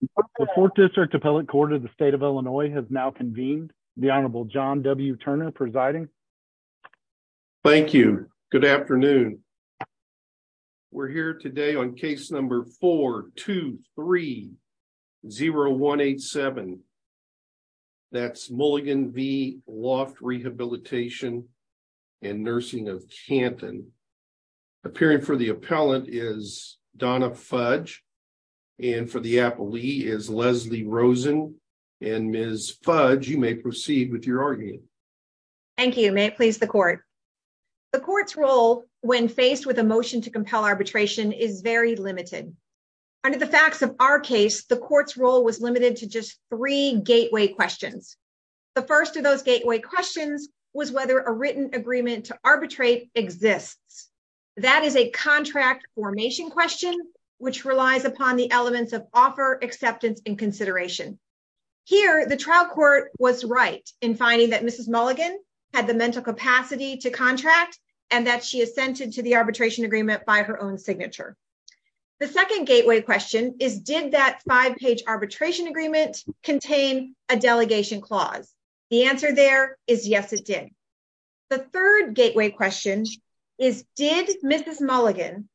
The 4th District Appellate Court of the State of Illinois has now convened. The Honorable John W. Turner presiding. Thank you. Good afternoon. We're here today on case number 4-2-3-0-1-8-7. That's Mulligan v. Loft Rehabilitation & Nursing of Canton. Appearing for the appellee is Leslie Rosen. Ms. Fudge, you may proceed with your argument. Thank you. May it please the Court. The Court's role when faced with a motion to compel arbitration is very limited. Under the facts of our case, the Court's role was limited to just three gateway questions. The first of those gateway questions was whether a written agreement to arbitrate exists. That is a contract formation question which relies upon the elements of offer, acceptance, and consideration. Here, the trial court was right in finding that Mrs. Mulligan had the mental capacity to contract and that she assented to the arbitration agreement by her own signature. The second gateway question is did that five-page arbitration agreement contain a delegation clause? The answer there is yes, it did. The third gateway question is did Mrs. Mulligan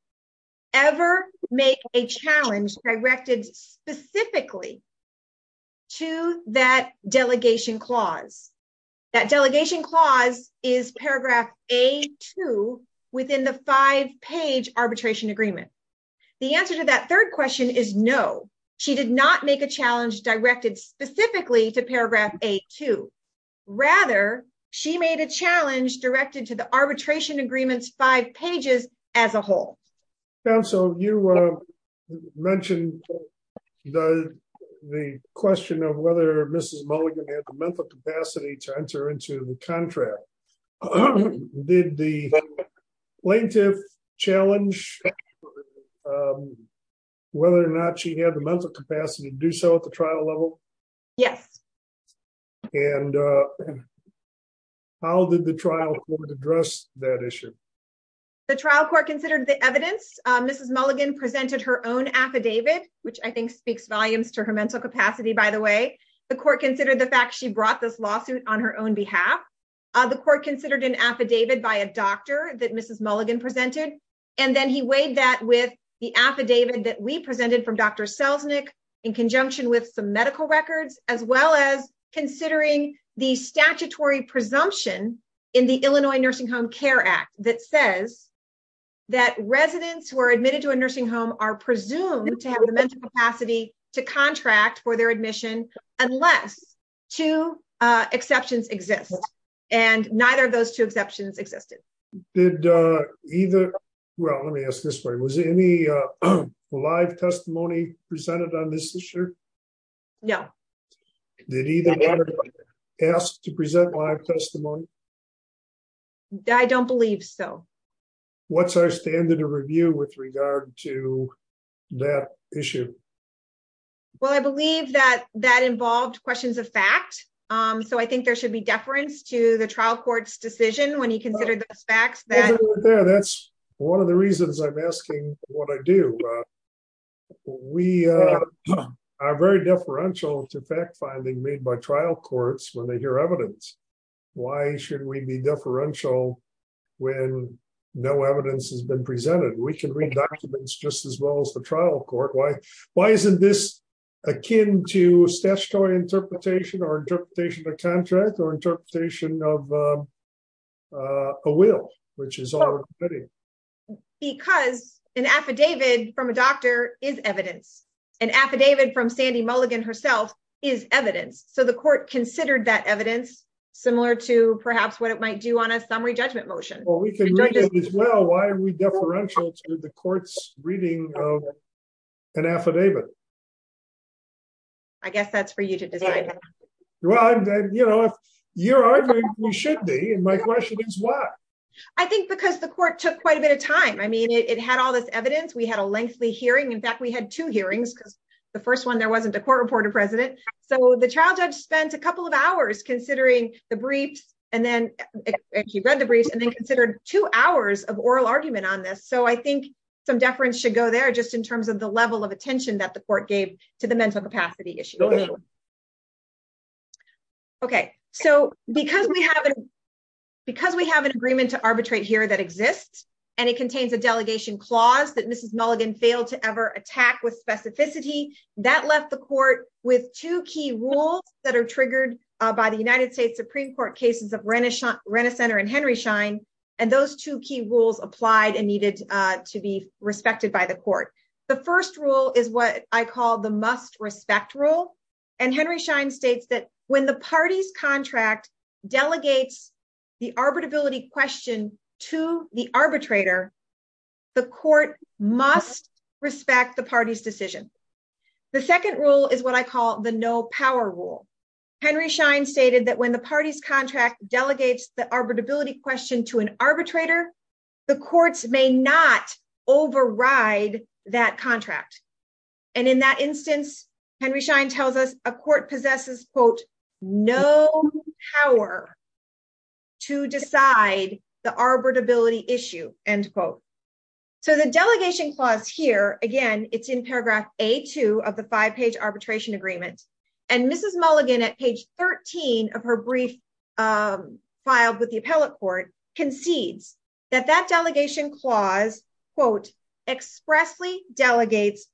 ever make a challenge directed specifically to that delegation clause? That delegation clause is paragraph A-2 within the five-page arbitration agreement. The answer to that third question is no. She did not make a challenge directed specifically to paragraph A-2. Rather, she made a challenge directed to the arbitration agreement's five pages as a whole. Counsel, you mentioned the question of whether Mrs. Mulligan had the mental capacity to enter into the contract. Did the plaintiff challenge whether or not she had the mental capacity to do so at the trial level? Yes. How did the trial court address that issue? The trial court considered the evidence. Mrs. Mulligan presented her own affidavit, which I think speaks volumes to her mental capacity, by the way. The court considered the fact she brought this lawsuit on her own behalf. The court considered an affidavit by a doctor that Mrs. Mulligan presented. Then he weighed that with the affidavit that we presented from Dr. Selznick in conjunction with some medical records, as well as considering the statutory presumption in the Illinois Nursing Home Care Act that says that residents who are admitted to a nursing home are presumed to have the mental capacity to contract for their admission unless two exceptions exist. Neither of those two exceptions existed. Let me ask this way. Was any live testimony presented on this issue? No. I don't believe so. What's our standard of review with regard to that issue? Well, I believe that that involved questions of fact. I think there should be deference to the trial court's decision when he considered those facts. That's one of the reasons I'm asking what I do. We are very deferential to fact-finding made by trial courts when they hear evidence. Why should we be deferential when no evidence has been presented? We can read documents just well as the trial court. Why isn't this akin to statutory interpretation or interpretation of contract or interpretation of a will? Because an affidavit from a doctor is evidence. An affidavit from Sandy Mulligan herself is evidence. The court considered that evidence similar to perhaps what it might do on a summary judgment motion. We can read it as well. Why are we deferential to an affidavit? I guess that's for you to decide. Well, if you're arguing, we should be. My question is why? I think because the court took quite a bit of time. It had all this evidence. We had a lengthy hearing. In fact, we had two hearings because the first one there wasn't a court report of precedent. The trial judge spent a couple of hours considering the briefs. He read the briefs and then considered two hours of oral argument on this. I think deference should go there just in terms of the level of attention that the court gave to the mental capacity issue. Because we have an agreement to arbitrate here that exists and it contains a delegation clause that Mrs. Mulligan failed to ever attack with specificity, that left the court with two key rules that are triggered by the United States Supreme Court cases Renishaw and Henry Schein. Those two key rules applied and needed to be respected by the court. The first rule is what I call the must respect rule. Henry Schein states that when the party's contract delegates the arbitrability question to the arbitrator, the court must respect the party's decision. The second rule is what I call the no power rule. Henry Schein stated that when the party's contract delegates the arbitrability question to an arbitrator, the courts may not override that contract. In that instance, Henry Schein tells us a court possesses no power to decide the arbitrability issue. The delegation clause here, again, it's in paragraph A2 of the five-page arbitration agreement and Mrs. Mulligan at page 13 of her brief filed with the appellate court concedes that that delegation clause, quote, expressly delegates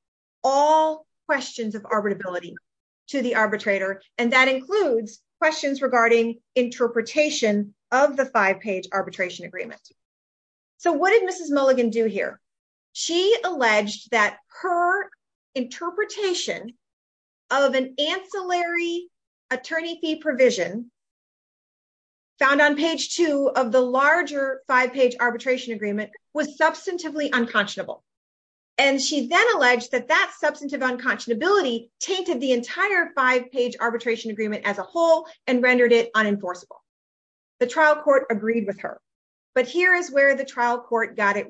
all questions of arbitrability to the arbitrator and that includes questions regarding interpretation of the five-page arbitration agreement. So what did Mrs. Mulligan do here? She alleged that her interpretation of an ancillary attorney fee provision found on page two of the larger five-page arbitration agreement was substantively unconscionable and she then alleged that that substantive unconscionability tainted the entire five-page arbitration agreement as a whole and rendered it unenforceable. The trial court agreed with her but here is where the trial court got it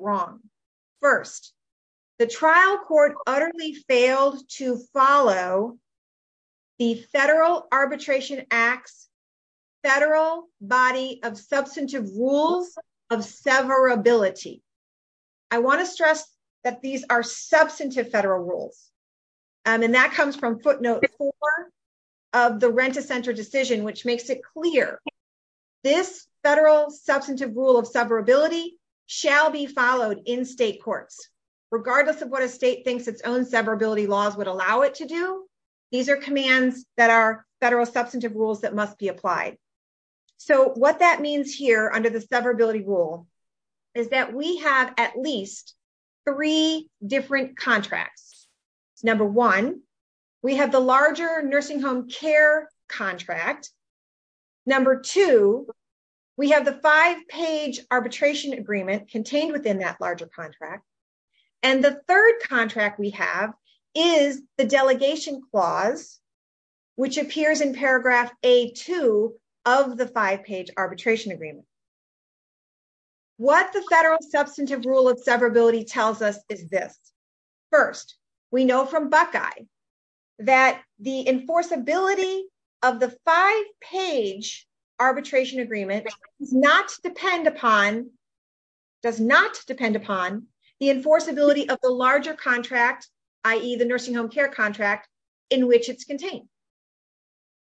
to fail to follow the Federal Arbitration Act's federal body of substantive rules of severability. I want to stress that these are substantive federal rules and that comes from footnote four of the Renta Center decision which makes it clear this federal substantive rule of severability shall be followed in state courts regardless of what a state thinks its own severability laws would allow it to do. These are commands that are federal substantive rules that must be applied. So what that means here under the severability rule is that we have at least three different contracts. Number one, we have the larger nursing home care contract. Number two, we have the five-page arbitration agreement contained within that larger contract and the third contract we have is the delegation clause which appears in paragraph a2 of the five-page arbitration agreement. What the federal substantive rule of severability tells us is this. First, we know from Buckeye that the enforceability of the five-page arbitration agreement does not depend upon the enforceability of the larger contract i.e. the nursing home care contract in which it's contained.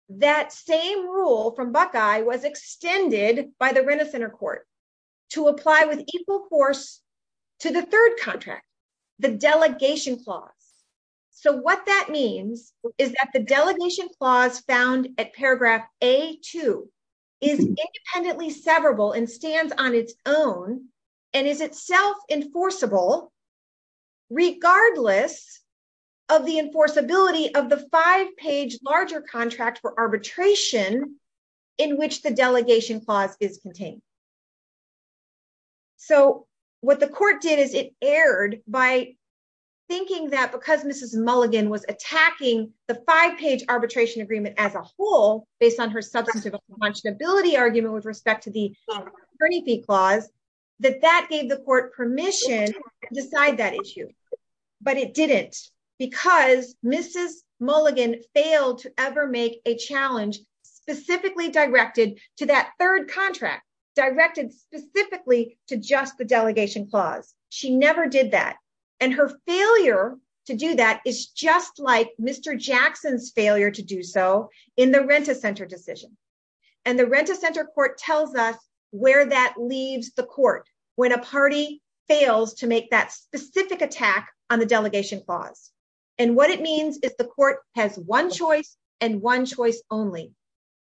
That same rule from Buckeye was extended by the Renta Center to apply with equal force to the third contract the delegation clause. So what that means is that the delegation clause found at paragraph a2 is independently severable and stands on its own and is itself enforceable regardless of the enforceability of the five-page larger contract for arbitration in which the delegation clause is contained. So what the court did is it erred by thinking that because Mrs. Mulligan was attacking the five-page arbitration agreement as a whole based on her substantive accountability argument with respect to the attorney fee clause that that gave the court permission to decide that issue. But it didn't because Mrs. Mulligan failed to ever make a challenge specifically directed to that third contract directed specifically to just the delegation clause. She never did that and her failure to do that is just like Mr. Jackson's failure to do so in the Renta Center decision. And the Renta Center court tells us where that leaves the court when a party fails to make that specific attack on the delegation clause. And what it means is the court has one choice only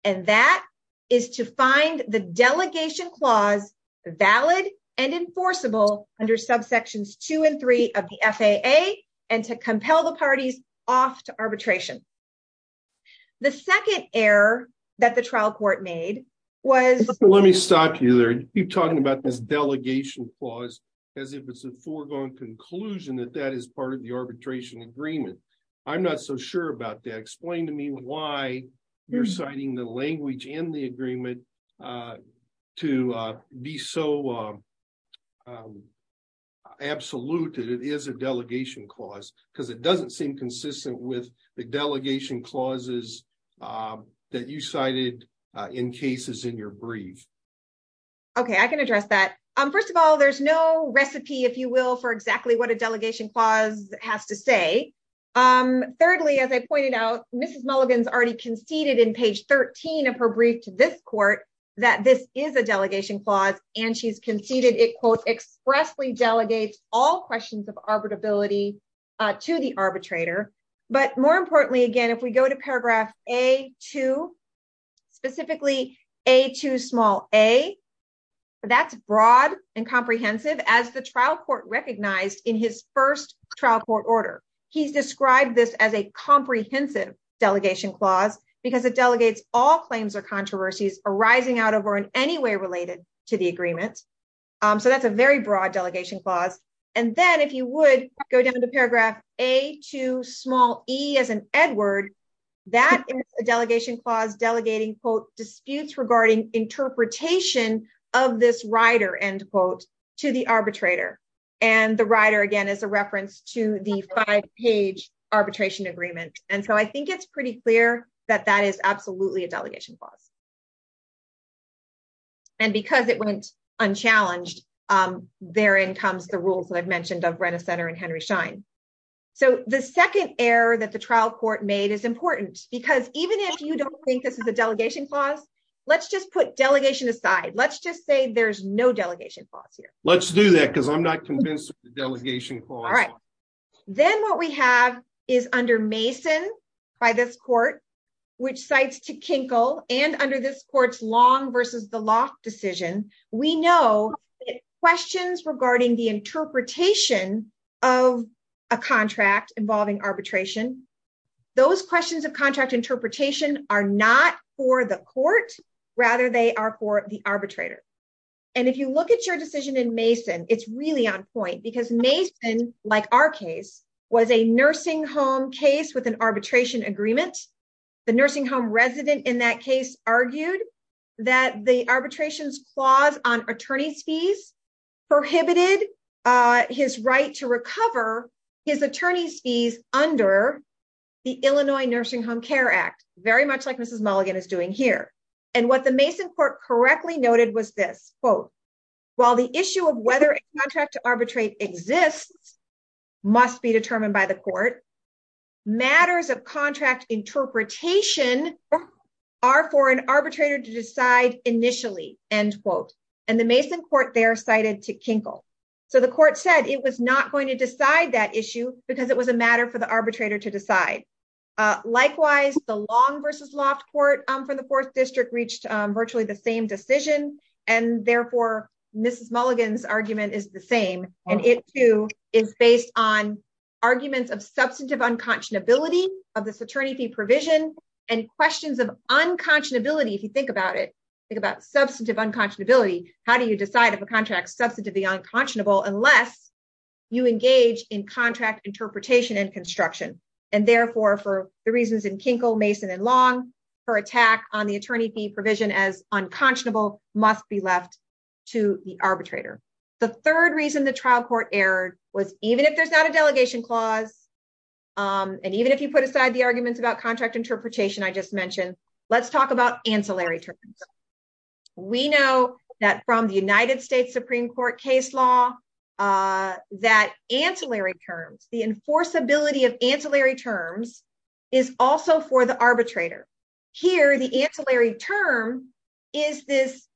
and that is to find the delegation clause valid and enforceable under subsections two and three of the FAA and to compel the parties off to arbitration. The second error that the trial court made was... Let me stop you there. You keep talking about this delegation clause as if it's a foregone conclusion that that is part of the arbitration agreement. I'm not so sure about that. Explain to me why you're citing the language in the agreement to be so absolute that it is a delegation clause because it doesn't seem consistent with the delegation clauses that you cited in cases in your brief. Okay, I can address that. First of all, there's no recipe, if you will, for exactly what a delegation clause has to say. Thirdly, as I pointed out, Mrs. Mulligan's already conceded in page 13 of her brief to this court that this is a delegation clause and she's conceded it, quote, expressly delegates all questions of arbitrability to the arbitrator. But more importantly, again, if we go to paragraph A2, specifically A2 small a, that's broad and comprehensive as the trial court recognized in his first trial court order. He's described this as a comprehensive delegation clause because it delegates all claims or controversies arising out of or in any way related to the agreement. So that's a very broad delegation clause. And then if you would go down to paragraph A2 small e as in Edward, that is a delegation clause delegating, quote, disputes regarding interpretation of this rider, end quote, to the arbitrator. And the rider, again, is a reference to the five-page arbitration agreement. And so I think it's pretty clear that that is absolutely a delegation clause. And because it went unchallenged, therein comes the rules that I've mentioned of Brenner Center and Henry Schein. So the second error that the trial court made is delegation aside. Let's just say there's no delegation clause here. Let's do that because I'm not convinced of the delegation clause. All right. Then what we have is under Mason by this court, which cites to Kinkle, and under this court's Long versus the Loft decision, we know questions regarding the interpretation of a contract involving arbitration. Those questions of contract interpretation are not for the court. Rather, they are for the arbitrator. And if you look at your decision in Mason, it's really on point because Mason, like our case, was a nursing home case with an arbitration agreement. The nursing home resident in that case argued that the arbitration's clause on attorney's fees prohibited his right to recover his attorney's under the Illinois Nursing Home Care Act, very much like Mrs. Mulligan is doing here. And what the Mason court correctly noted was this, quote, while the issue of whether a contract to arbitrate exists must be determined by the court, matters of contract interpretation are for an arbitrator to decide initially, end quote. And the Mason court there cited to Kinkle. So the court said it was not going to decide that issue because it was a matter for the arbitrator to decide. Likewise, the Long versus Loft court for the fourth district reached virtually the same decision. And therefore, Mrs. Mulligan's argument is the same. And it too is based on arguments of substantive unconscionability of this attorney fee provision and questions of unconscionability. If you think about it, think about substantive unconscionability, how do you decide if a contract is substantively unconscionable unless you engage in contract interpretation and construction? And therefore, for the reasons in Kinkle, Mason, and Long, her attack on the attorney fee provision as unconscionable must be left to the arbitrator. The third reason the trial court erred was even if there's not a delegation clause, and even if you put aside the arguments about contract interpretation I just that from the United States Supreme Court case law, that ancillary terms, the enforceability of ancillary terms is also for the arbitrator. Here, the ancillary term is this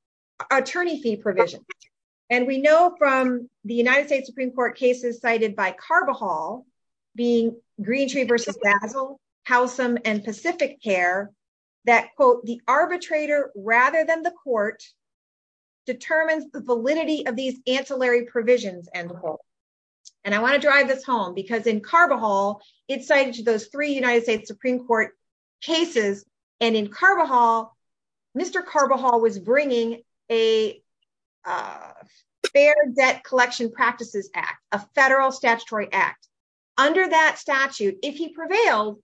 attorney fee provision. And we know from the United States Supreme Court cases cited by Carvajal being Greentree v. Basil, Howsam, and Pacific Care that, quote, the arbitrator rather than the court determines the validity of these ancillary provisions, end quote. And I want to drive this home because in Carvajal, it's cited to those three United States Supreme Court cases. And in Carvajal, Mr. Carvajal was bringing a Fair Debt Collection Practices Act, a federal statutory act. Under that statute, if he prevailed,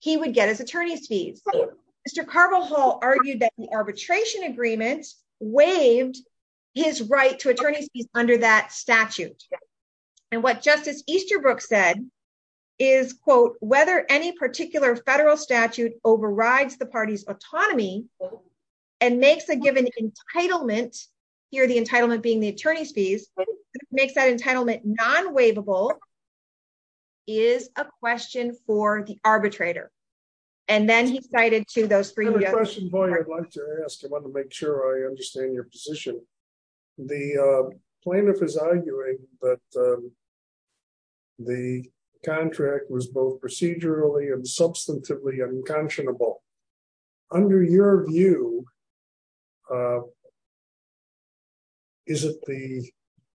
he would get his attorney's fees. Mr. Carvajal argued that the arbitration agreement waived his right to attorney's fees under that statute. And what Justice Easterbrook said is, quote, whether any particular federal statute overrides the party's autonomy and makes a given entitlement, here the entitlement being the attorney's fees, makes that entitlement non-waivable, is a question for the arbitrator. And then he cited to those three- I have a question, Boyd, I'd like to ask. I want to make sure I understand your position. The plaintiff is arguing that the contract was both procedurally and substantively unconscionable. Under your view, is it the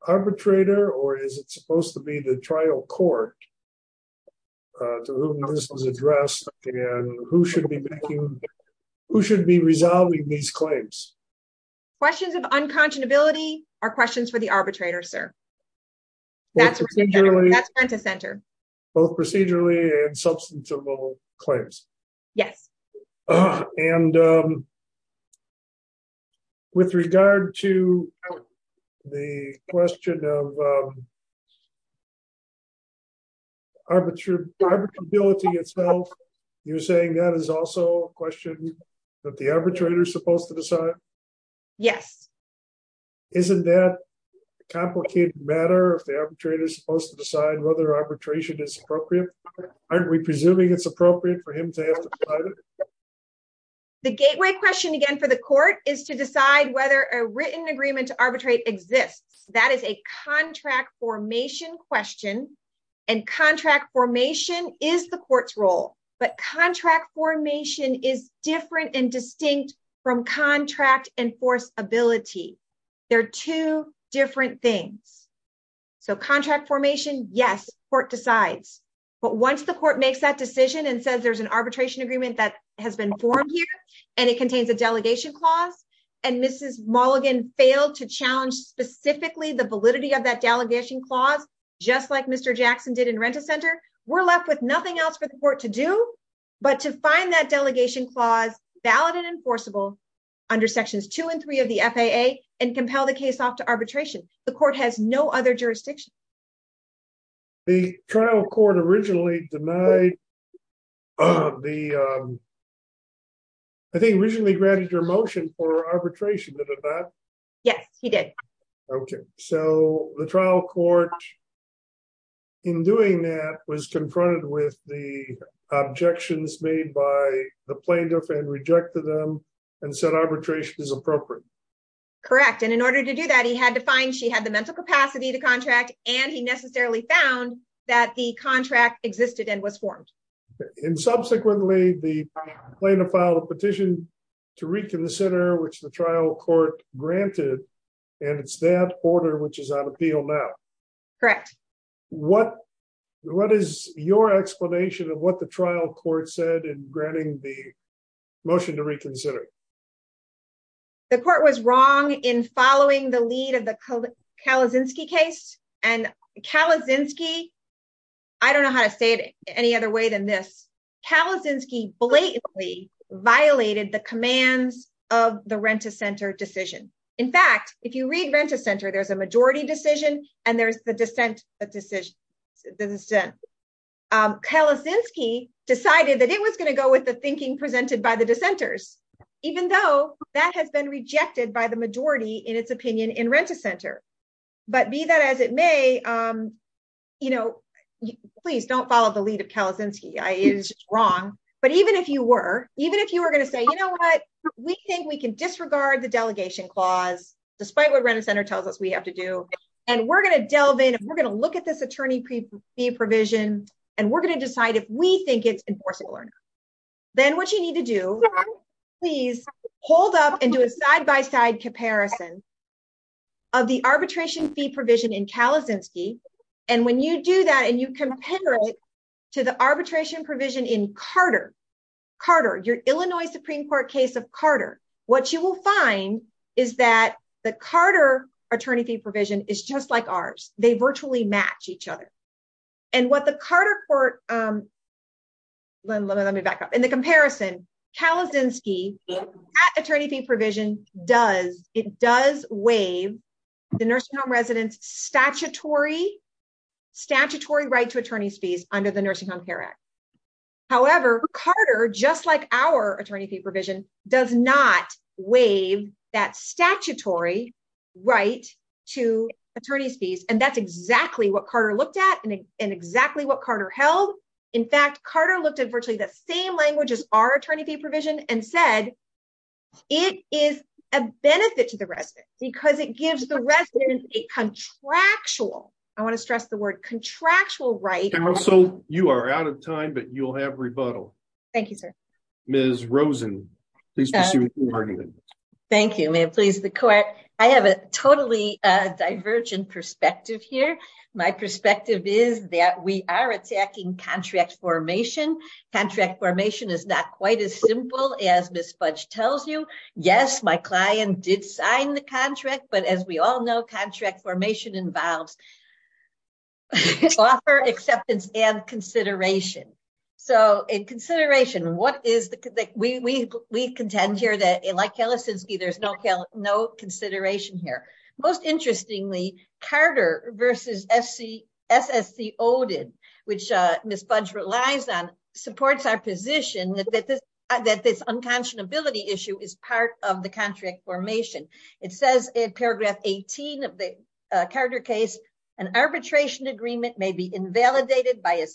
arbitrator or is it supposed to be the trial court to whom this was addressed? And who should be making- who should be resolving these claims? Questions of unconscionability are questions for the arbitrator, sir. That's the center. Both procedurally and substantively claims. Yes. And with regard to the question of arbitrability itself, you're saying that is also a question that the arbitrator is supposed to decide? Yes. Isn't that a complicated matter if the arbitrator is supposed to decide whether arbitration is appropriate? Aren't we presuming it's appropriate for him to have to fight it? The gateway question again for the court is to decide whether a written agreement to arbitrate exists. That is a contract formation question, and contract formation is the court's role, but contract formation is different and distinct from contract enforceability. They're two different things. So contract formation, yes, court decides. But once the court makes that decision and says there's an arbitration agreement that has been formed here and it contains a delegation clause, and Mrs. Mulligan failed to challenge specifically the validity of that delegation clause, just like Mr. Jackson did in RentaCenter, we're left with but to find that delegation clause valid and enforceable under Sections 2 and 3 of the FAA and compel the case off to arbitration. The court has no other jurisdiction. The trial court originally denied the, I think originally granted your motion for arbitration, did it not? Yes, he did. Okay. So the trial court in doing that was confronted with the objections made by the plaintiff and rejected them and said arbitration is appropriate. Correct. And in order to do that, he had to find she had the mental capacity to contract and he necessarily found that the contract existed and was formed. And subsequently, the plaintiff filed a petition to reconsider which the trial court granted, and it's that order which is on appeal now. Correct. What is your explanation of what the trial court said in granting the motion to reconsider? The court was wrong in following the lead of the Kalicinski case, and Kalicinski, I don't know how to say it any other way than this, Kalicinski blatantly violated the commands of the RentaCenter decision. In fact, if you read RentaCenter, there's a majority decision, and there's the dissent decision. Kalicinski decided that it was going to go with the thinking presented by the dissenters, even though that has been rejected by the majority in its opinion in RentaCenter. But be that as it may, please don't follow the lead of Kalicinski, I is wrong. But even if you were, even if you were going to say, you know what, we think we can disregard the delegation clause, despite what RentaCenter tells us we have to do. And we're going to delve in, we're going to look at this attorney fee provision, and we're going to decide if we think it's enforcing or not. Then what you need to do, please hold up and do a side by side comparison of the arbitration fee provision in Kalicinski. And when you do that, and you compare it to the arbitration provision in Carter, Carter, your Illinois Supreme Court case of Carter, what you will find is that the Carter attorney fee provision is just like ours, they virtually match each other. And what the Carter court, let me back up in the comparison, Kalicinski attorney fee provision does, it does waive the nursing home residents statutory, statutory right to attorneys fees under the Nursing Home Care Act. However, Carter, just like our attorney fee provision does not waive that statutory right to attorneys fees. And that's exactly what Carter looked at, and exactly what Carter held. In fact, Carter looked at virtually the same language as our attorney fee provision and said, it is a benefit to the resident because it gives the resident a contractual, I want to stress the word contractual right. And also you are out of time, but you'll have rebuttal. Thank you, sir. Ms. Rosen, please proceed with your argument. Thank you. May it please the court. I have a totally divergent perspective here. My perspective is that we are attacking contract formation. Contract formation is not quite as simple as Ms. Fudge tells you. Yes, my client did sign the contract, but as we all know, contract formation involves offer, acceptance, and consideration. So in consideration, what is the, we contend here that like Kalisinski, there's no consideration here. Most interestingly, Carter versus S.S.C. Odin, which Ms. Fudge relies on, supports our position that this unconscionability issue is part of the contract formation. It says in paragraph 18 of the Carter case, an arbitration agreement may be invalidated by a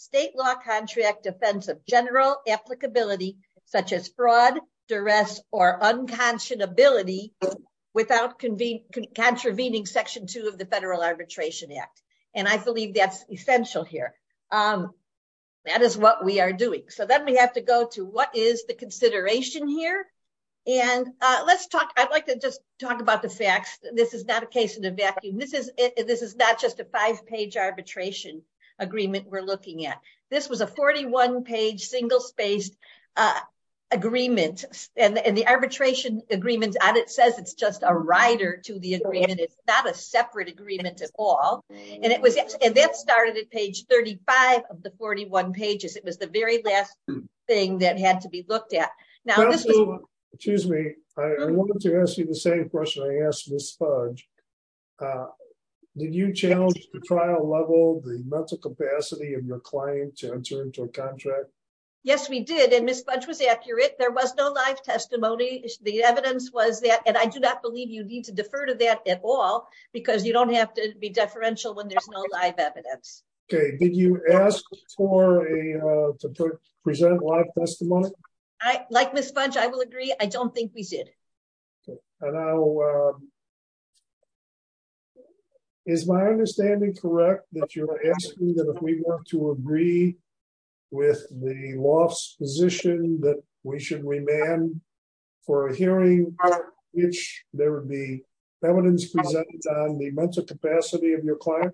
such as fraud, duress, or unconscionability without contravening section two of the federal arbitration act. And I believe that's essential here. That is what we are doing. So then we have to go to what is the consideration here? And let's talk, I'd like to just talk about the facts. This is not a case in a vacuum. This is not just a five-page arbitration agreement we're looking at. This was a 41-page single-spaced agreement and the arbitration agreement on it says it's just a rider to the agreement. It's not a separate agreement at all. And that started at page 35 of the 41 pages. It was the very last thing that had to be looked at. Now, excuse me, I wanted to ask you the same question I asked Ms. Fudge. Did you challenge the trial level, the mental capacity of your client to enter into a contract? Yes, we did. And Ms. Fudge was accurate. There was no live testimony. The evidence was that, and I do not believe you need to defer to that at all because you don't have to be deferential when there's no live evidence. Okay. Did you ask for a, to present live testimony? Like Ms. Fudge, I will agree. I don't think we did. And now, is my understanding correct that you're asking that if we want to agree with the law's position that we should remand for a hearing in which there would be evidence presented on the mental capacity of your client?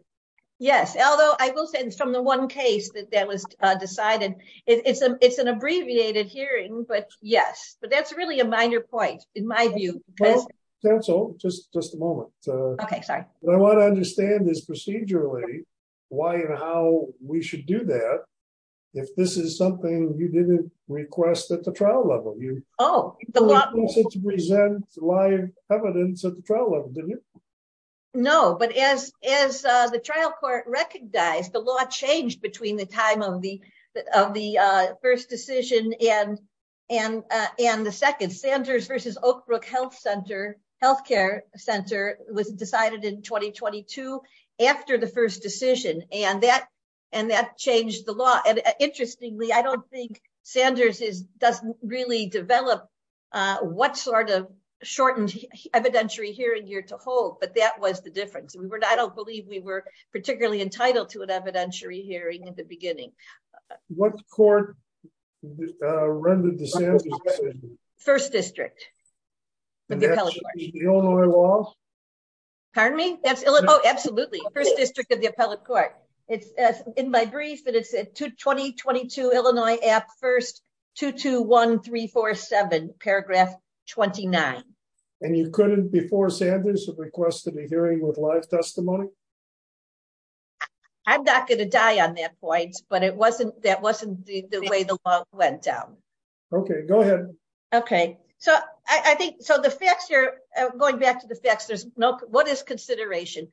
Yes. Although I will say it's from the one case that that was decided. It's an abbreviated hearing, but yes. But that's really a minor point in my view. Well, counsel, just a moment. Okay. Sorry. I want to understand this procedurally why and how we should do that. If this is something you didn't request at the trial level, you wanted to present live evidence at the trial level, didn't you? No, but as the trial court recognized, the law changed between the time of the first decision and the second. Sanders versus Oak Brook Health Center, healthcare center was decided in 2022 after the first decision. And that changed the law. And interestingly, I don't think Sanders doesn't really develop what sort of shortened evidentiary hearing you're to hold, but that was the difference. I don't believe we were particularly entitled to an evidentiary hearing at the beginning. What court rendered the Sanders? First district. The Illinois law? Pardon me? Oh, absolutely. First district of the appellate court. It's in my brief that it said 2022 Illinois Act first 221347 paragraph 29. And you couldn't before Sanders have requested a testimony. I'm not going to die on that point, but it wasn't that wasn't the way the law went down. Okay, go ahead. Okay, so I think so the facts you're going back to the facts, there's no what is consideration.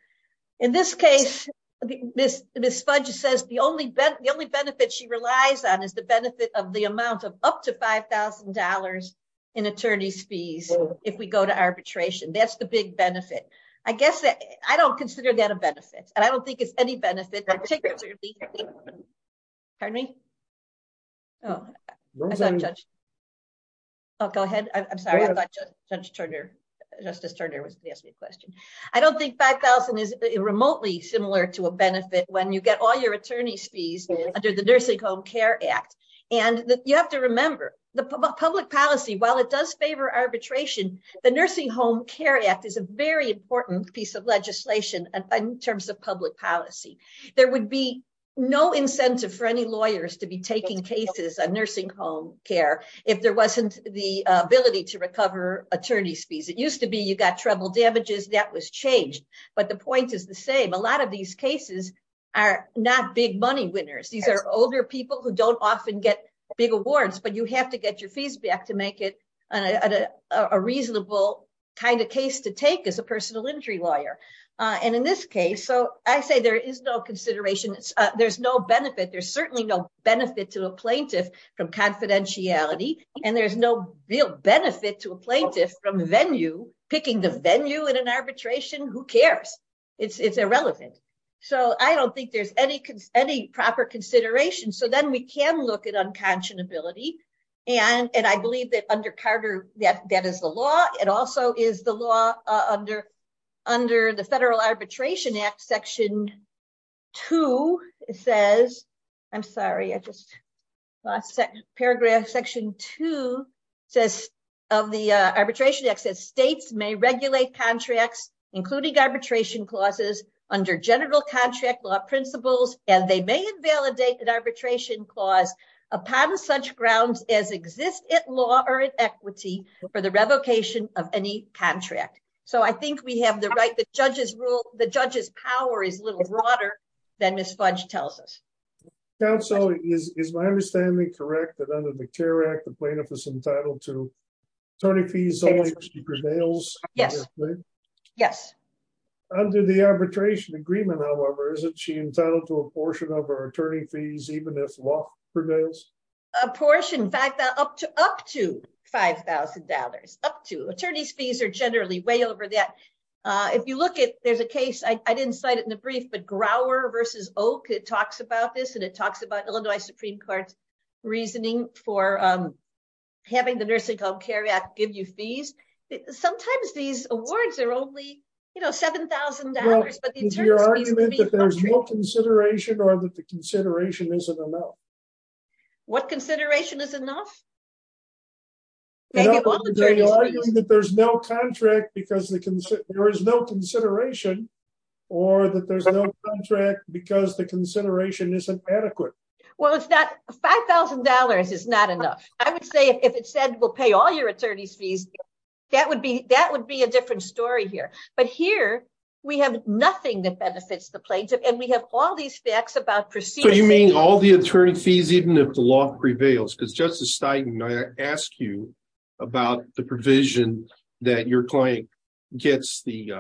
In this case, this this budget says the only bet the only benefit she relies on is the benefit of the amount of up to $5,000 in attorney's fees. If we go to arbitration, that's the big benefit. I guess that I don't consider that a benefit. And I don't think it's any benefit. Pardon me? Oh, go ahead. I'm sorry. I thought Judge Turner, Justice Turner was asking a question. I don't think 5000 is remotely similar to a benefit when you get all your attorney's fees under the Nursing Home Care Act. And you have to remember the public policy while it does favor arbitration. The Nursing Home Care Act is a very important piece of legislation in terms of public policy. There would be no incentive for any lawyers to be taking cases on nursing home care. If there wasn't the ability to recover attorney's fees, it used to be you got treble damages that was changed. But the point is the same. A lot of these cases are not big money winners. These are older people who don't often get big awards, but you have to get your fees back to make it a reasonable kind of case to take as a personal injury lawyer. And in this case, so I say there is no consideration. There's no benefit. There's certainly no benefit to a plaintiff from confidentiality. And there's no real benefit to a plaintiff from venue, picking the venue in an arbitration, who cares? It's irrelevant. So I don't think there's any proper consideration. So then we can look at unconscionability. And I believe that under Carter, that is the law. It also is the law under the Federal Arbitration Act. Section two says, I'm sorry, I just lost that paragraph. Section two says of the Arbitration Act says states may regulate contracts, including arbitration clauses, under general contract law principles, and they may invalidate arbitration clause upon such grounds as exist at law or in equity for the revocation of any contract. So I think we have the right, the judge's rule, the judge's power is a little broader than Ms. Fudge tells us. Counsel, is my understanding correct that under the CARE Act, the plaintiff is entitled to attorney fees only if she prevails? Yes. Yes. Under the CARE Act, the plaintiff is entitled to attorney fees even if law prevails? A portion, up to $5,000, up to. Attorney's fees are generally way over that. If you look at, there's a case, I didn't cite it in the brief, but Grower v. Oak, it talks about this, and it talks about Illinois Supreme Court's reasoning for having the Nursing Home CARE Act give you fees. Sometimes these awards are only, you know, $7,000, but the attorney's fees would be... Well, is your argument that there's no consideration or that the consideration isn't enough? What consideration is enough? That there's no contract because there is no consideration or that there's no contract because the consideration isn't adequate. Well, $5,000 is not enough. I would say if it said, we'll pay all your attorney's fees, that would be a different story here. But here, we have nothing that benefits the plaintiff, and we have all these facts about proceedings. But you mean all the attorney fees, even if the law prevails? Because Justice Stein, I asked you about the provision that your client gets the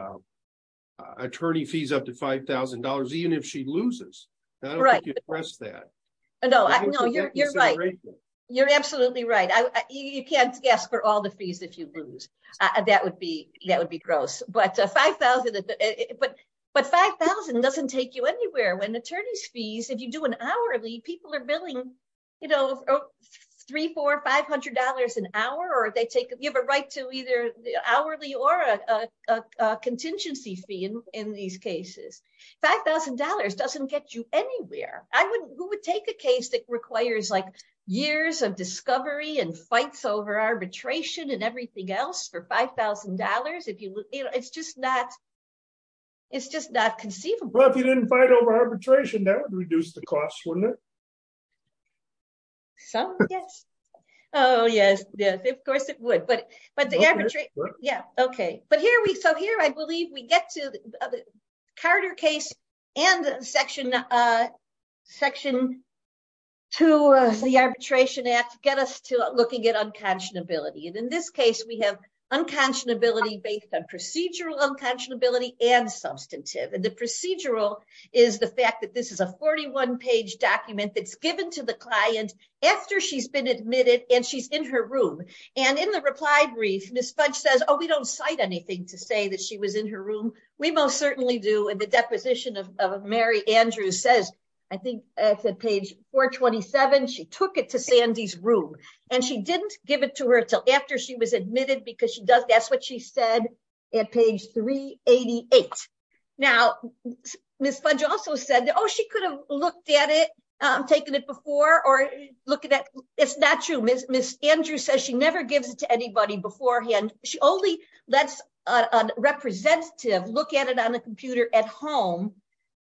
attorney fees up to $5,000, even if she loses. I don't think you addressed that. No, you're right. You're absolutely right. You can't ask for all the fees if you lose. That would be gross. But $5,000 doesn't take you anywhere. When attorney's fees, if you do an hourly, people are billing, you know, $300, $400, $500 an hour, or you have a right to either the hourly or a contingency fee in these cases. $5,000 doesn't get you anywhere. Who would take a case that requires like years of discovery and fights over arbitration and everything else for $5,000? It's just not conceivable. Well, if you didn't fight over arbitration, that would reduce the cost, wouldn't it? Some, yes. Oh, yes. Of course, it would. But the arbitration, yeah, okay. So here, I believe we get to Carter case and Section 2 of the Arbitration Act get us to looking at unconscionability. And in this case, we have unconscionability based on procedural unconscionability and substantive. And the procedural is the fact that this is a 41-page document that's given to the client after she's been admitted and she's in her room. And in the reply brief, Ms. Fudge says, we don't cite anything to say that she was in her room. We most certainly do. And the deposition of Mary Andrews says, I think it's at page 427, she took it to Sandy's room. And she didn't give it to her until after she was admitted because that's what she said at page 388. Now, Ms. Fudge also said, oh, she could have looked at it, taken it before or look at that. It's not true. Ms. Andrews says she never gives it to anybody beforehand. She only lets a representative look at it on the computer at home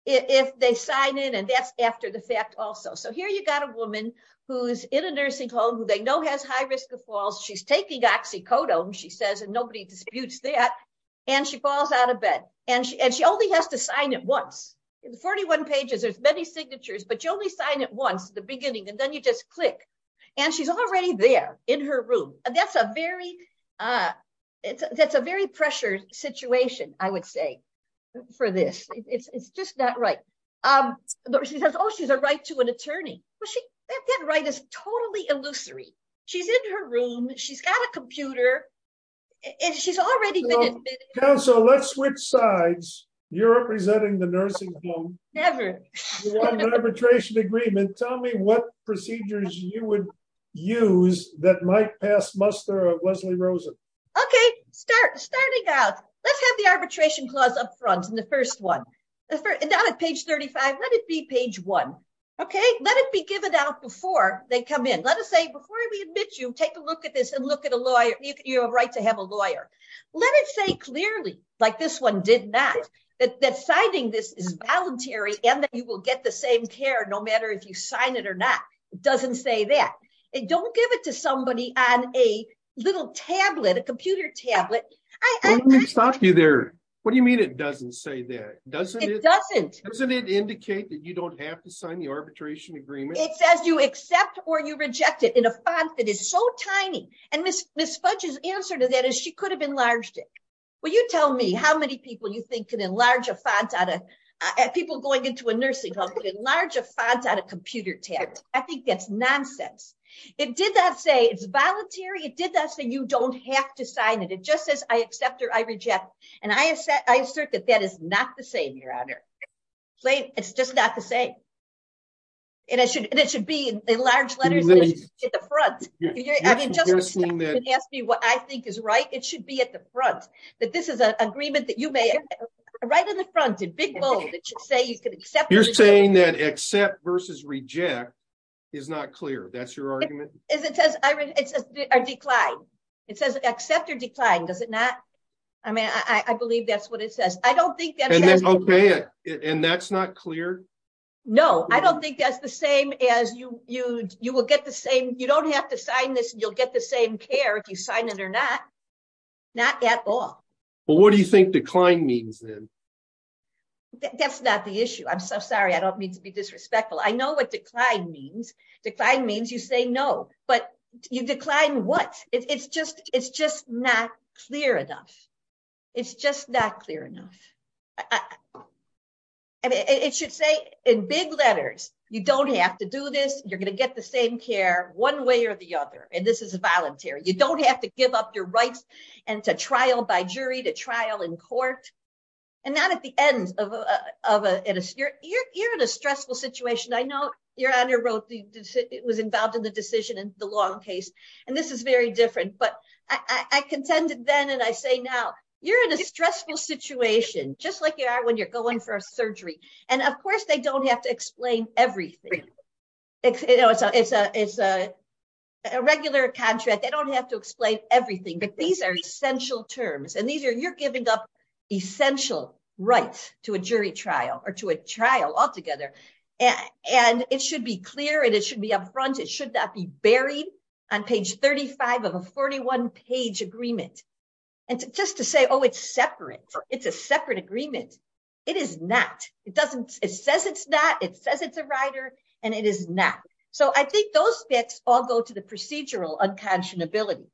if they sign in and that's after the fact also. So here, you got a woman who's in a nursing home who they know has high risk of falls. She's taking oxycodone, she says, and nobody disputes that. And she falls out of bed. And she only has to sign it once. In the 41 pages, there's many signatures, but you only sign it once, the beginning, and then you just click. And she's already there in her room. That's a very pressured situation, I would say, for this. It's just not right. She says, oh, she's a right to an attorney. That right is totally illusory. She's in her room, she's got a computer, and she's already been admitted. Counsel, let's switch sides. You're representing the nursing home. Never. Arbitration agreement. Tell me what procedures you would use that might pass muster of Lesley Rosen. Okay. Starting out, let's have the arbitration clause up front in the first one. Down at page 35, let it be page one. Let it be given out before they come in. Let us say, before we admit you, take a look at this and look at a lawyer. You have a right to have a lawyer. Let it say clearly, like this one did not, that signing this is voluntary and that you will get the same care no matter if you sign it or not. It doesn't say that. Don't give it to somebody on a little tablet, a computer tablet. Let me stop you there. What do you mean it doesn't say that? Doesn't it? It doesn't. Doesn't it indicate that you don't have to sign the arbitration agreement? It says you accept or you reject it in a font that is so tiny. And Ms. Fudge's answer to that is she could have enlarged it. Well, you tell me how many people you think can enlarge a font out of, people going into a nursing home can enlarge a font out of a computer tablet. I think that's nonsense. It did not say it's voluntary. It did not say you don't have to sign it. It just says I accept or I reject. And I assert that that is not the same, Your Honor. It's just not the same. And it should be in large letters at the front. I mean, just ask me what I think is right. It should be at the front, that this is an agreement that you may, right in the front, in big bold, it should say you can accept. You're saying that accept versus reject is not clear. That's your argument? As it says, it says decline. It says accept or decline. Does it not? I mean, I believe that's what it says. I don't think that. And then okay. And that's not clear? No, I don't think that's the same as you will get the same. You don't have to sign this and you'll get the same care if you sign it or not. Not at all. But what do you think decline means then? That's not the issue. I'm so sorry. I don't mean to be disrespectful. I know what decline means. Decline means you say no, but you decline what? It's just not clear enough. It's just not clear in big letters. You don't have to do this. You're going to get the same care one way or the other. And this is voluntary. You don't have to give up your rights and to trial by jury, to trial in court and not at the end of a, you're in a stressful situation. I know your honor wrote, it was involved in the decision in the long case, and this is very different, but I contended then. And I say, now you're in a stressful situation, just like you are when you're going for a surgery. And of course they don't have to explain everything. It's a regular contract. They don't have to explain everything, but these are essential terms. And these are, you're giving up essential rights to a jury trial or to a trial altogether. And it should be clear and it should be upfront. It should not be buried on page 35 of a 41 page agreement. And just to say, it's separate. It's a separate agreement. It is not. It doesn't, it says it's not, it says it's a rider and it is not. So I think those bits all go to the procedural unconscionability.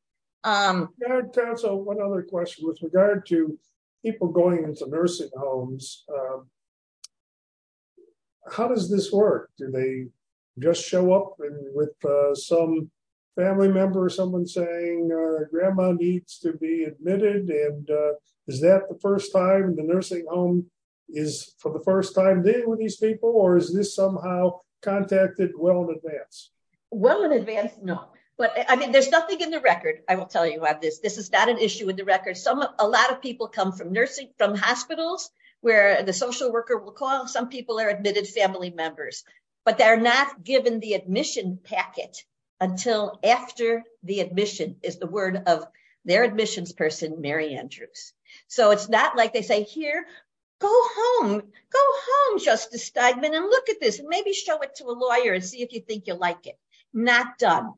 Your honor, counsel, one other question with regard to people going into nursing homes, how does this work? Do they just show up with some family member or someone saying grandma needs to be admitted? And is that the first time the nursing home is for the first time dealing with these people? Or is this somehow contacted well in advance? Well in advance, no, but I mean, there's nothing in the record. I will tell you about this. This is not an issue in the record. Some, a lot of people come from nursing, from hospitals where the social worker will call. Some people are admitted family members, but they're not given the admission packet until after the admission is the word of their admissions person, Mary Andrews. So it's not like they say here, go home, go home, Justice Steinman and look at this and maybe show it to a lawyer and see if you think you'll like it. Not done.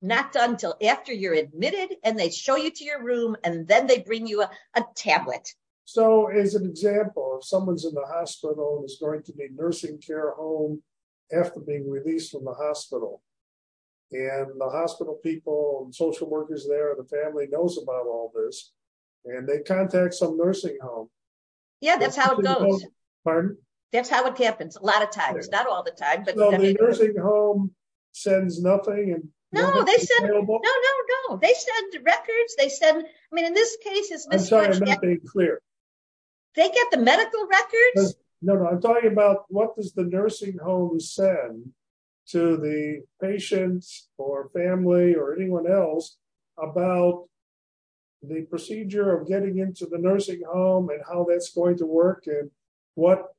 Not done until after you're admitted and they show you to your room and then they bring you a tablet. So as an example, if someone's in the hospital and it's going to be nursing care home after being released from the hospital and the hospital people and social workers there, the family knows about all this and they contact some nursing home. Yeah, that's how it goes. Pardon? That's how it happens a lot of times, not all the time. So the nursing home sends nothing? No, they send records. They send, I mean, in this case, they get the medical records. No, no. I'm talking about what does the nursing home send to the patients or family or anyone else about the procedure of getting into the nursing home and how that's going to work and what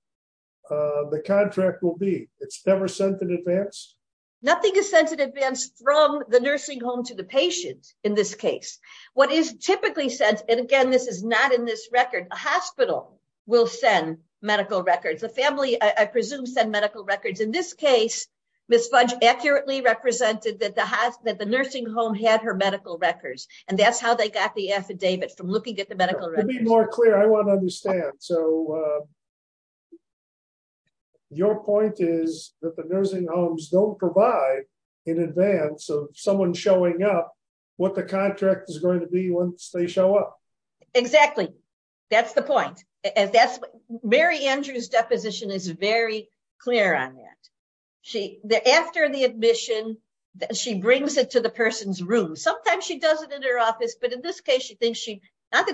the contract will be. It's never sent in advance. Nothing is sent in advance from the nursing home to the patient in this case. What is typically said, and again, this is not in this record, a hospital will send medical records. The family, I presume, send medical records. In this case, Ms. Fudge accurately represented that the nursing home had her medical records and that's how they got the affidavit from looking at the medical. To be more clear, I want to understand. So your point is that the nursing homes don't provide in advance of someone showing up what the contract is going to be once they show up. Exactly. That's the point. Mary Andrews' deposition is very clear on that. After the admission, she brings it to the person's room. Sometimes she does it in her office, but in this case, she brought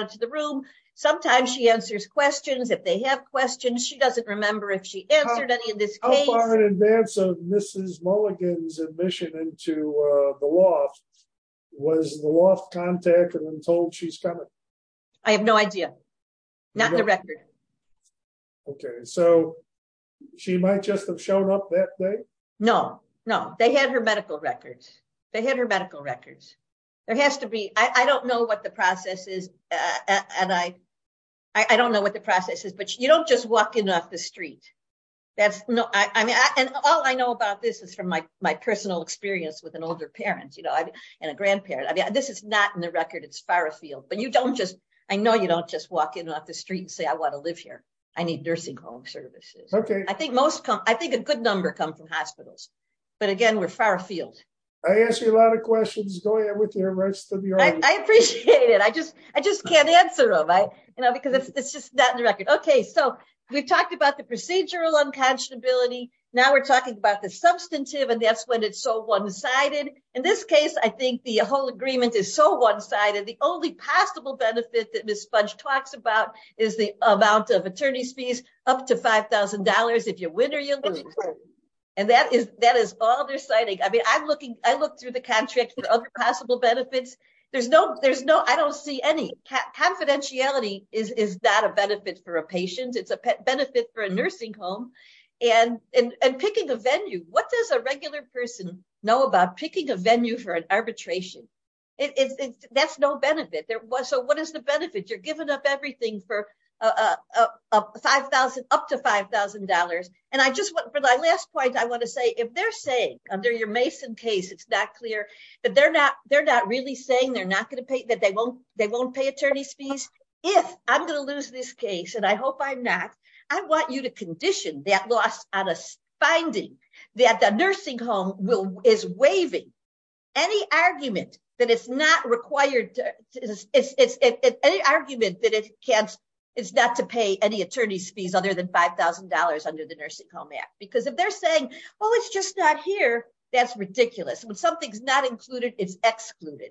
it to the room. Sometimes she answers questions. If they have questions, she doesn't remember if she answered any in this case. How far in advance of Mrs. Mulligan's admission into the loft was the loft contacted and told she's coming? I have no idea. Not in the record. Okay. So she might just have shown up that day? No, no. They had her medical records. They had her medical records. I don't know what the process is, but you don't just walk in off the street. All I know about this is from my personal experience with an older parent and a grandparent. This is not in the record. It's far afield. I know you don't just walk in off the street and say, I want to live here. I need nursing home services. I think a good number come from hospitals. But again, we're far afield. I asked you a lot of questions. Go ahead with the rest of your... I appreciate it. I just can't answer them because it's just not in the record. Okay. So we've talked about the procedural unconscionability. Now we're talking about the substantive and that's when it's so one-sided. In this case, I think the whole agreement is so one-sided. The only possible benefit that Ms. Fudge talks about is the confidentiality. That is all they're citing. I look through the contract for other possible benefits. I don't see any. Confidentiality is not a benefit for a patient. It's a benefit for a nursing home and picking a venue. What does a regular person know about picking a venue for an arbitration? That's no benefit. So what is the benefit? You're giving up everything for $5,000, up to $5,000. And for my last point, I want to say, if they're saying under your Mason case, it's not clear, but they're not really saying that they won't pay attorney's fees. If I'm going to lose this case, and I hope I'm not, I want you to condition that loss on a finding that the nursing home is waiving any argument that it's not to pay any attorney's fees other than $5,000 under the Nursing Home Act. Because if they're saying, oh, it's just not here, that's ridiculous. When something's not included, it's excluded.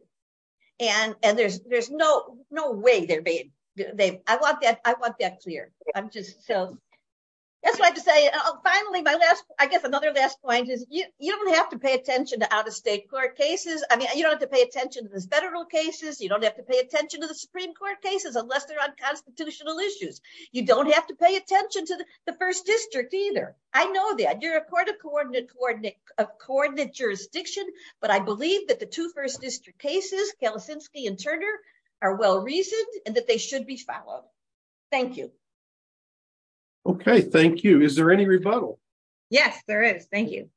And there's no way they're being... I want that clear. That's what I have to say. Finally, I guess another last point is you don't have to pay attention to out-of-state court cases. I mean, you don't have to pay attention to the federal cases. You don't have to pay attention to the Supreme Court cases unless they're on constitutional issues. You don't have to pay attention to the first district either. I know that. You're a coordinate jurisdiction, but I believe that the two first district cases, Kalisinski and Turner, are well-reasoned and that they should be followed. Thank you. Okay, thank you. Is there any rebuttal? Yes, there is. Thank you.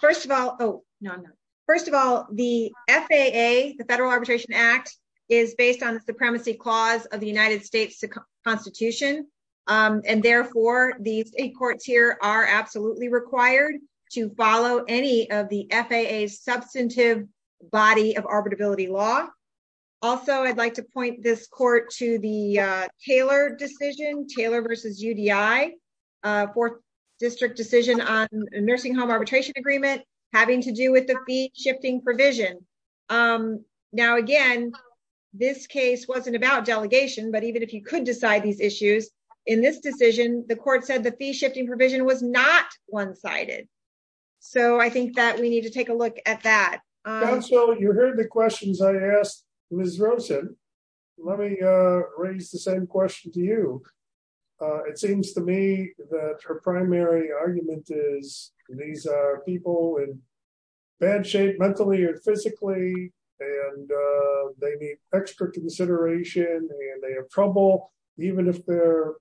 First of all, the FAA, the Federal Arbitration Act, is based on the Supremacy Clause of the United States Constitution. And therefore, the state courts here are absolutely required to follow any of the FAA's substantive body of arbitrability law. Also, I'd like to point this court to the Taylor decision, Taylor versus UDI, fourth district decision on a nursing home arbitration agreement, having to do with the fee-shifting provision. Now, again, this case wasn't about delegation, but even if you could decide these issues, in this decision, the court said the fee-shifting provision was not one-sided. So I think that we need to take a look at that. You heard the questions I asked Ms. Rosen. Let me raise the same question to you. It seems to me that her primary argument is these are people in bad shape mentally and physically, and they need extra consideration, and they have trouble, even if they're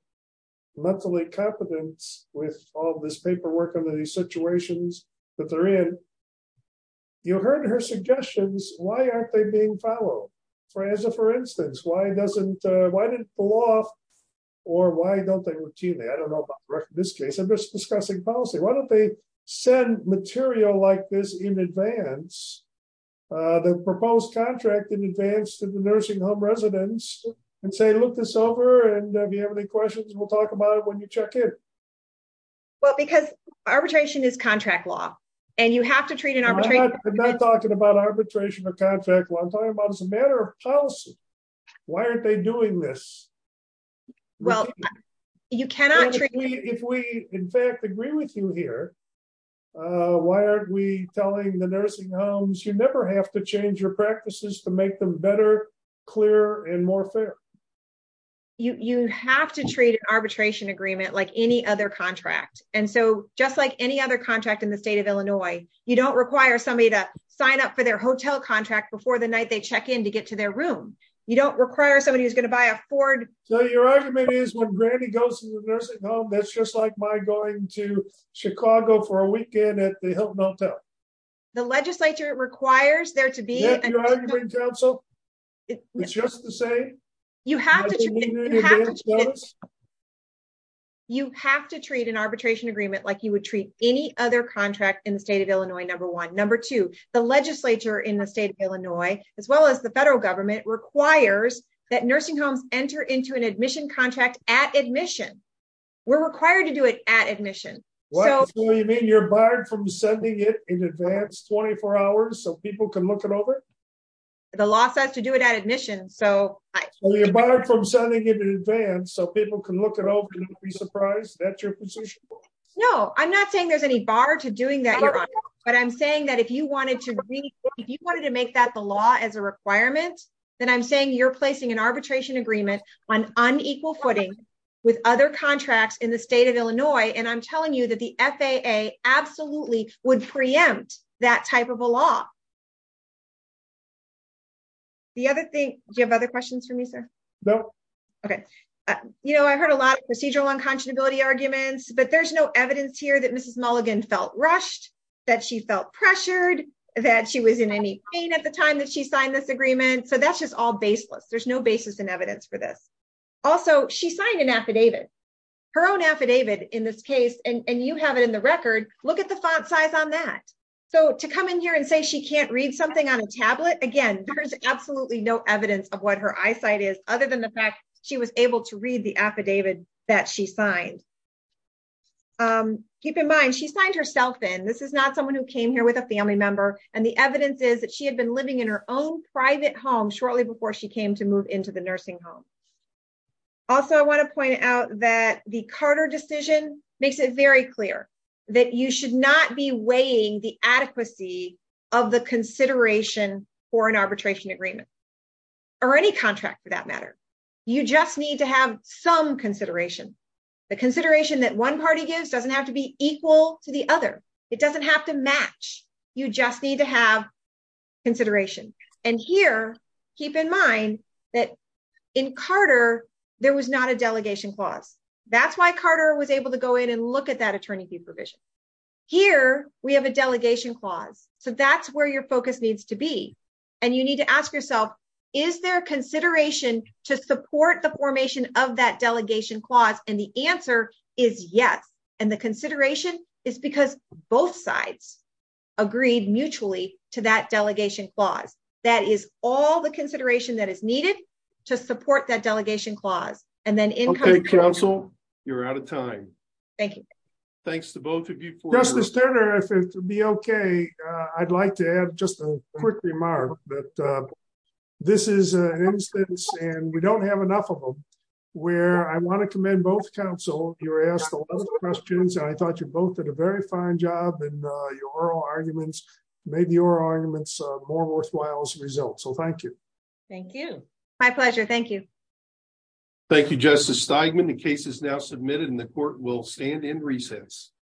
mentally competent with all this paperwork under these situations that they're in. You heard her suggestions. Why aren't they being followed? For instance, why doesn't, why didn't the law, or why don't they routinely? I don't know about this case, I'm just discussing policy. Why don't they send material like this in advance the proposed contract in advance to the nursing home residents, and say, look this over, and if you have any questions, we'll talk about it when you check in. Well, because arbitration is contract law, and you have to treat an arbitration- I'm not talking about arbitration or contract law. I'm talking about as a matter of policy. Why aren't they doing this? Well, you cannot treat- If we, in fact, agree with you here, why aren't we telling the nursing homes, you never have to change your practices to make them better, clearer, and more fair. You have to treat an arbitration agreement like any other contract, and so just like any other contract in the state of Illinois, you don't require somebody to sign up for their hotel contract before the night they check in to get to their room. You don't require somebody who's going to buy a Ford- So your argument is when granny goes to the nursing home, that's just like my going to Chicago for a weekend at the Hilton Hotel. The legislature requires there to be- Is that your argument, counsel? It's just the same? You have to treat an arbitration agreement like you would treat any other contract in the state of Illinois, number one. Number two, the legislature in the state of Illinois, as well as the federal government, requires that nursing homes enter into an admission contract at admission. We're required to do it at admission. What? So you mean you're barred from sending it in advance 24 hours so people can look it over? The law says to do it at admission, so- You're barred from sending it in advance so people can look it over and be surprised? That's your position? No, I'm not saying there's any bar to doing that, Your Honor, but I'm saying that if you wanted to make that the law as a requirement, then I'm saying you're placing an arbitration agreement on unequal footing with other contracts in the state of Illinois, and I'm telling you that the FAA absolutely would preempt that type of a law. The other thing- Do you have other questions for me, sir? No. Okay. You know, I heard a lot of procedural unconscionability arguments, but there's no evidence here that Mrs. Mulligan felt rushed, that she felt pressured, that she was in any pain at the time that she signed this agreement, so that's just all baseless. There's no basis in evidence for this. Also, she signed an affidavit, her own affidavit in this case, and you have it in the record. Look at the font size on that. So to come in here and say she can't read something on a tablet, again, there's absolutely no evidence of what her eyesight is other than the fact she was able to read the affidavit that she signed. Keep in mind, she signed herself in. This is not someone who came here with a family member, and the evidence is that she had been living in her own private home shortly before she came to move into the nursing home. Also, I want to point out that the Carter decision makes it very clear that you should not be weighing the adequacy of the consideration for an arbitration agreement, or any contract for that matter. You just need to have some consideration. The consideration that one party gives doesn't have to be equal to the other. It doesn't have to match. You just need to have consideration. And here, keep in mind that in Carter, there was not a delegation clause. That's why Carter was able to go in and look at that attorney fee provision. Here, we have a delegation clause. So that's where your focus needs to be. And you need to ask yourself, is there consideration to support the formation of that delegation clause? And the answer is yes. And the consideration is because both sides agreed mutually to that delegation clause. That is all the consideration that is needed to support that delegation clause. And then in- OK, counsel. You're out of time. Thank you. Thanks to both of you for your- Justice Turner, if it would be OK, I'd like to add just a quick remark that this is an instance, and we don't have enough of them, where I want to commend both counsel. You were asked a lot of questions, and I thought you both did a very fine job in your oral arguments, made your arguments more worthwhile as a result. So thank you. Thank you. My pleasure. Thank you. Thank you, Justice Steigman. The case is now submitted, and the court will stand in recess.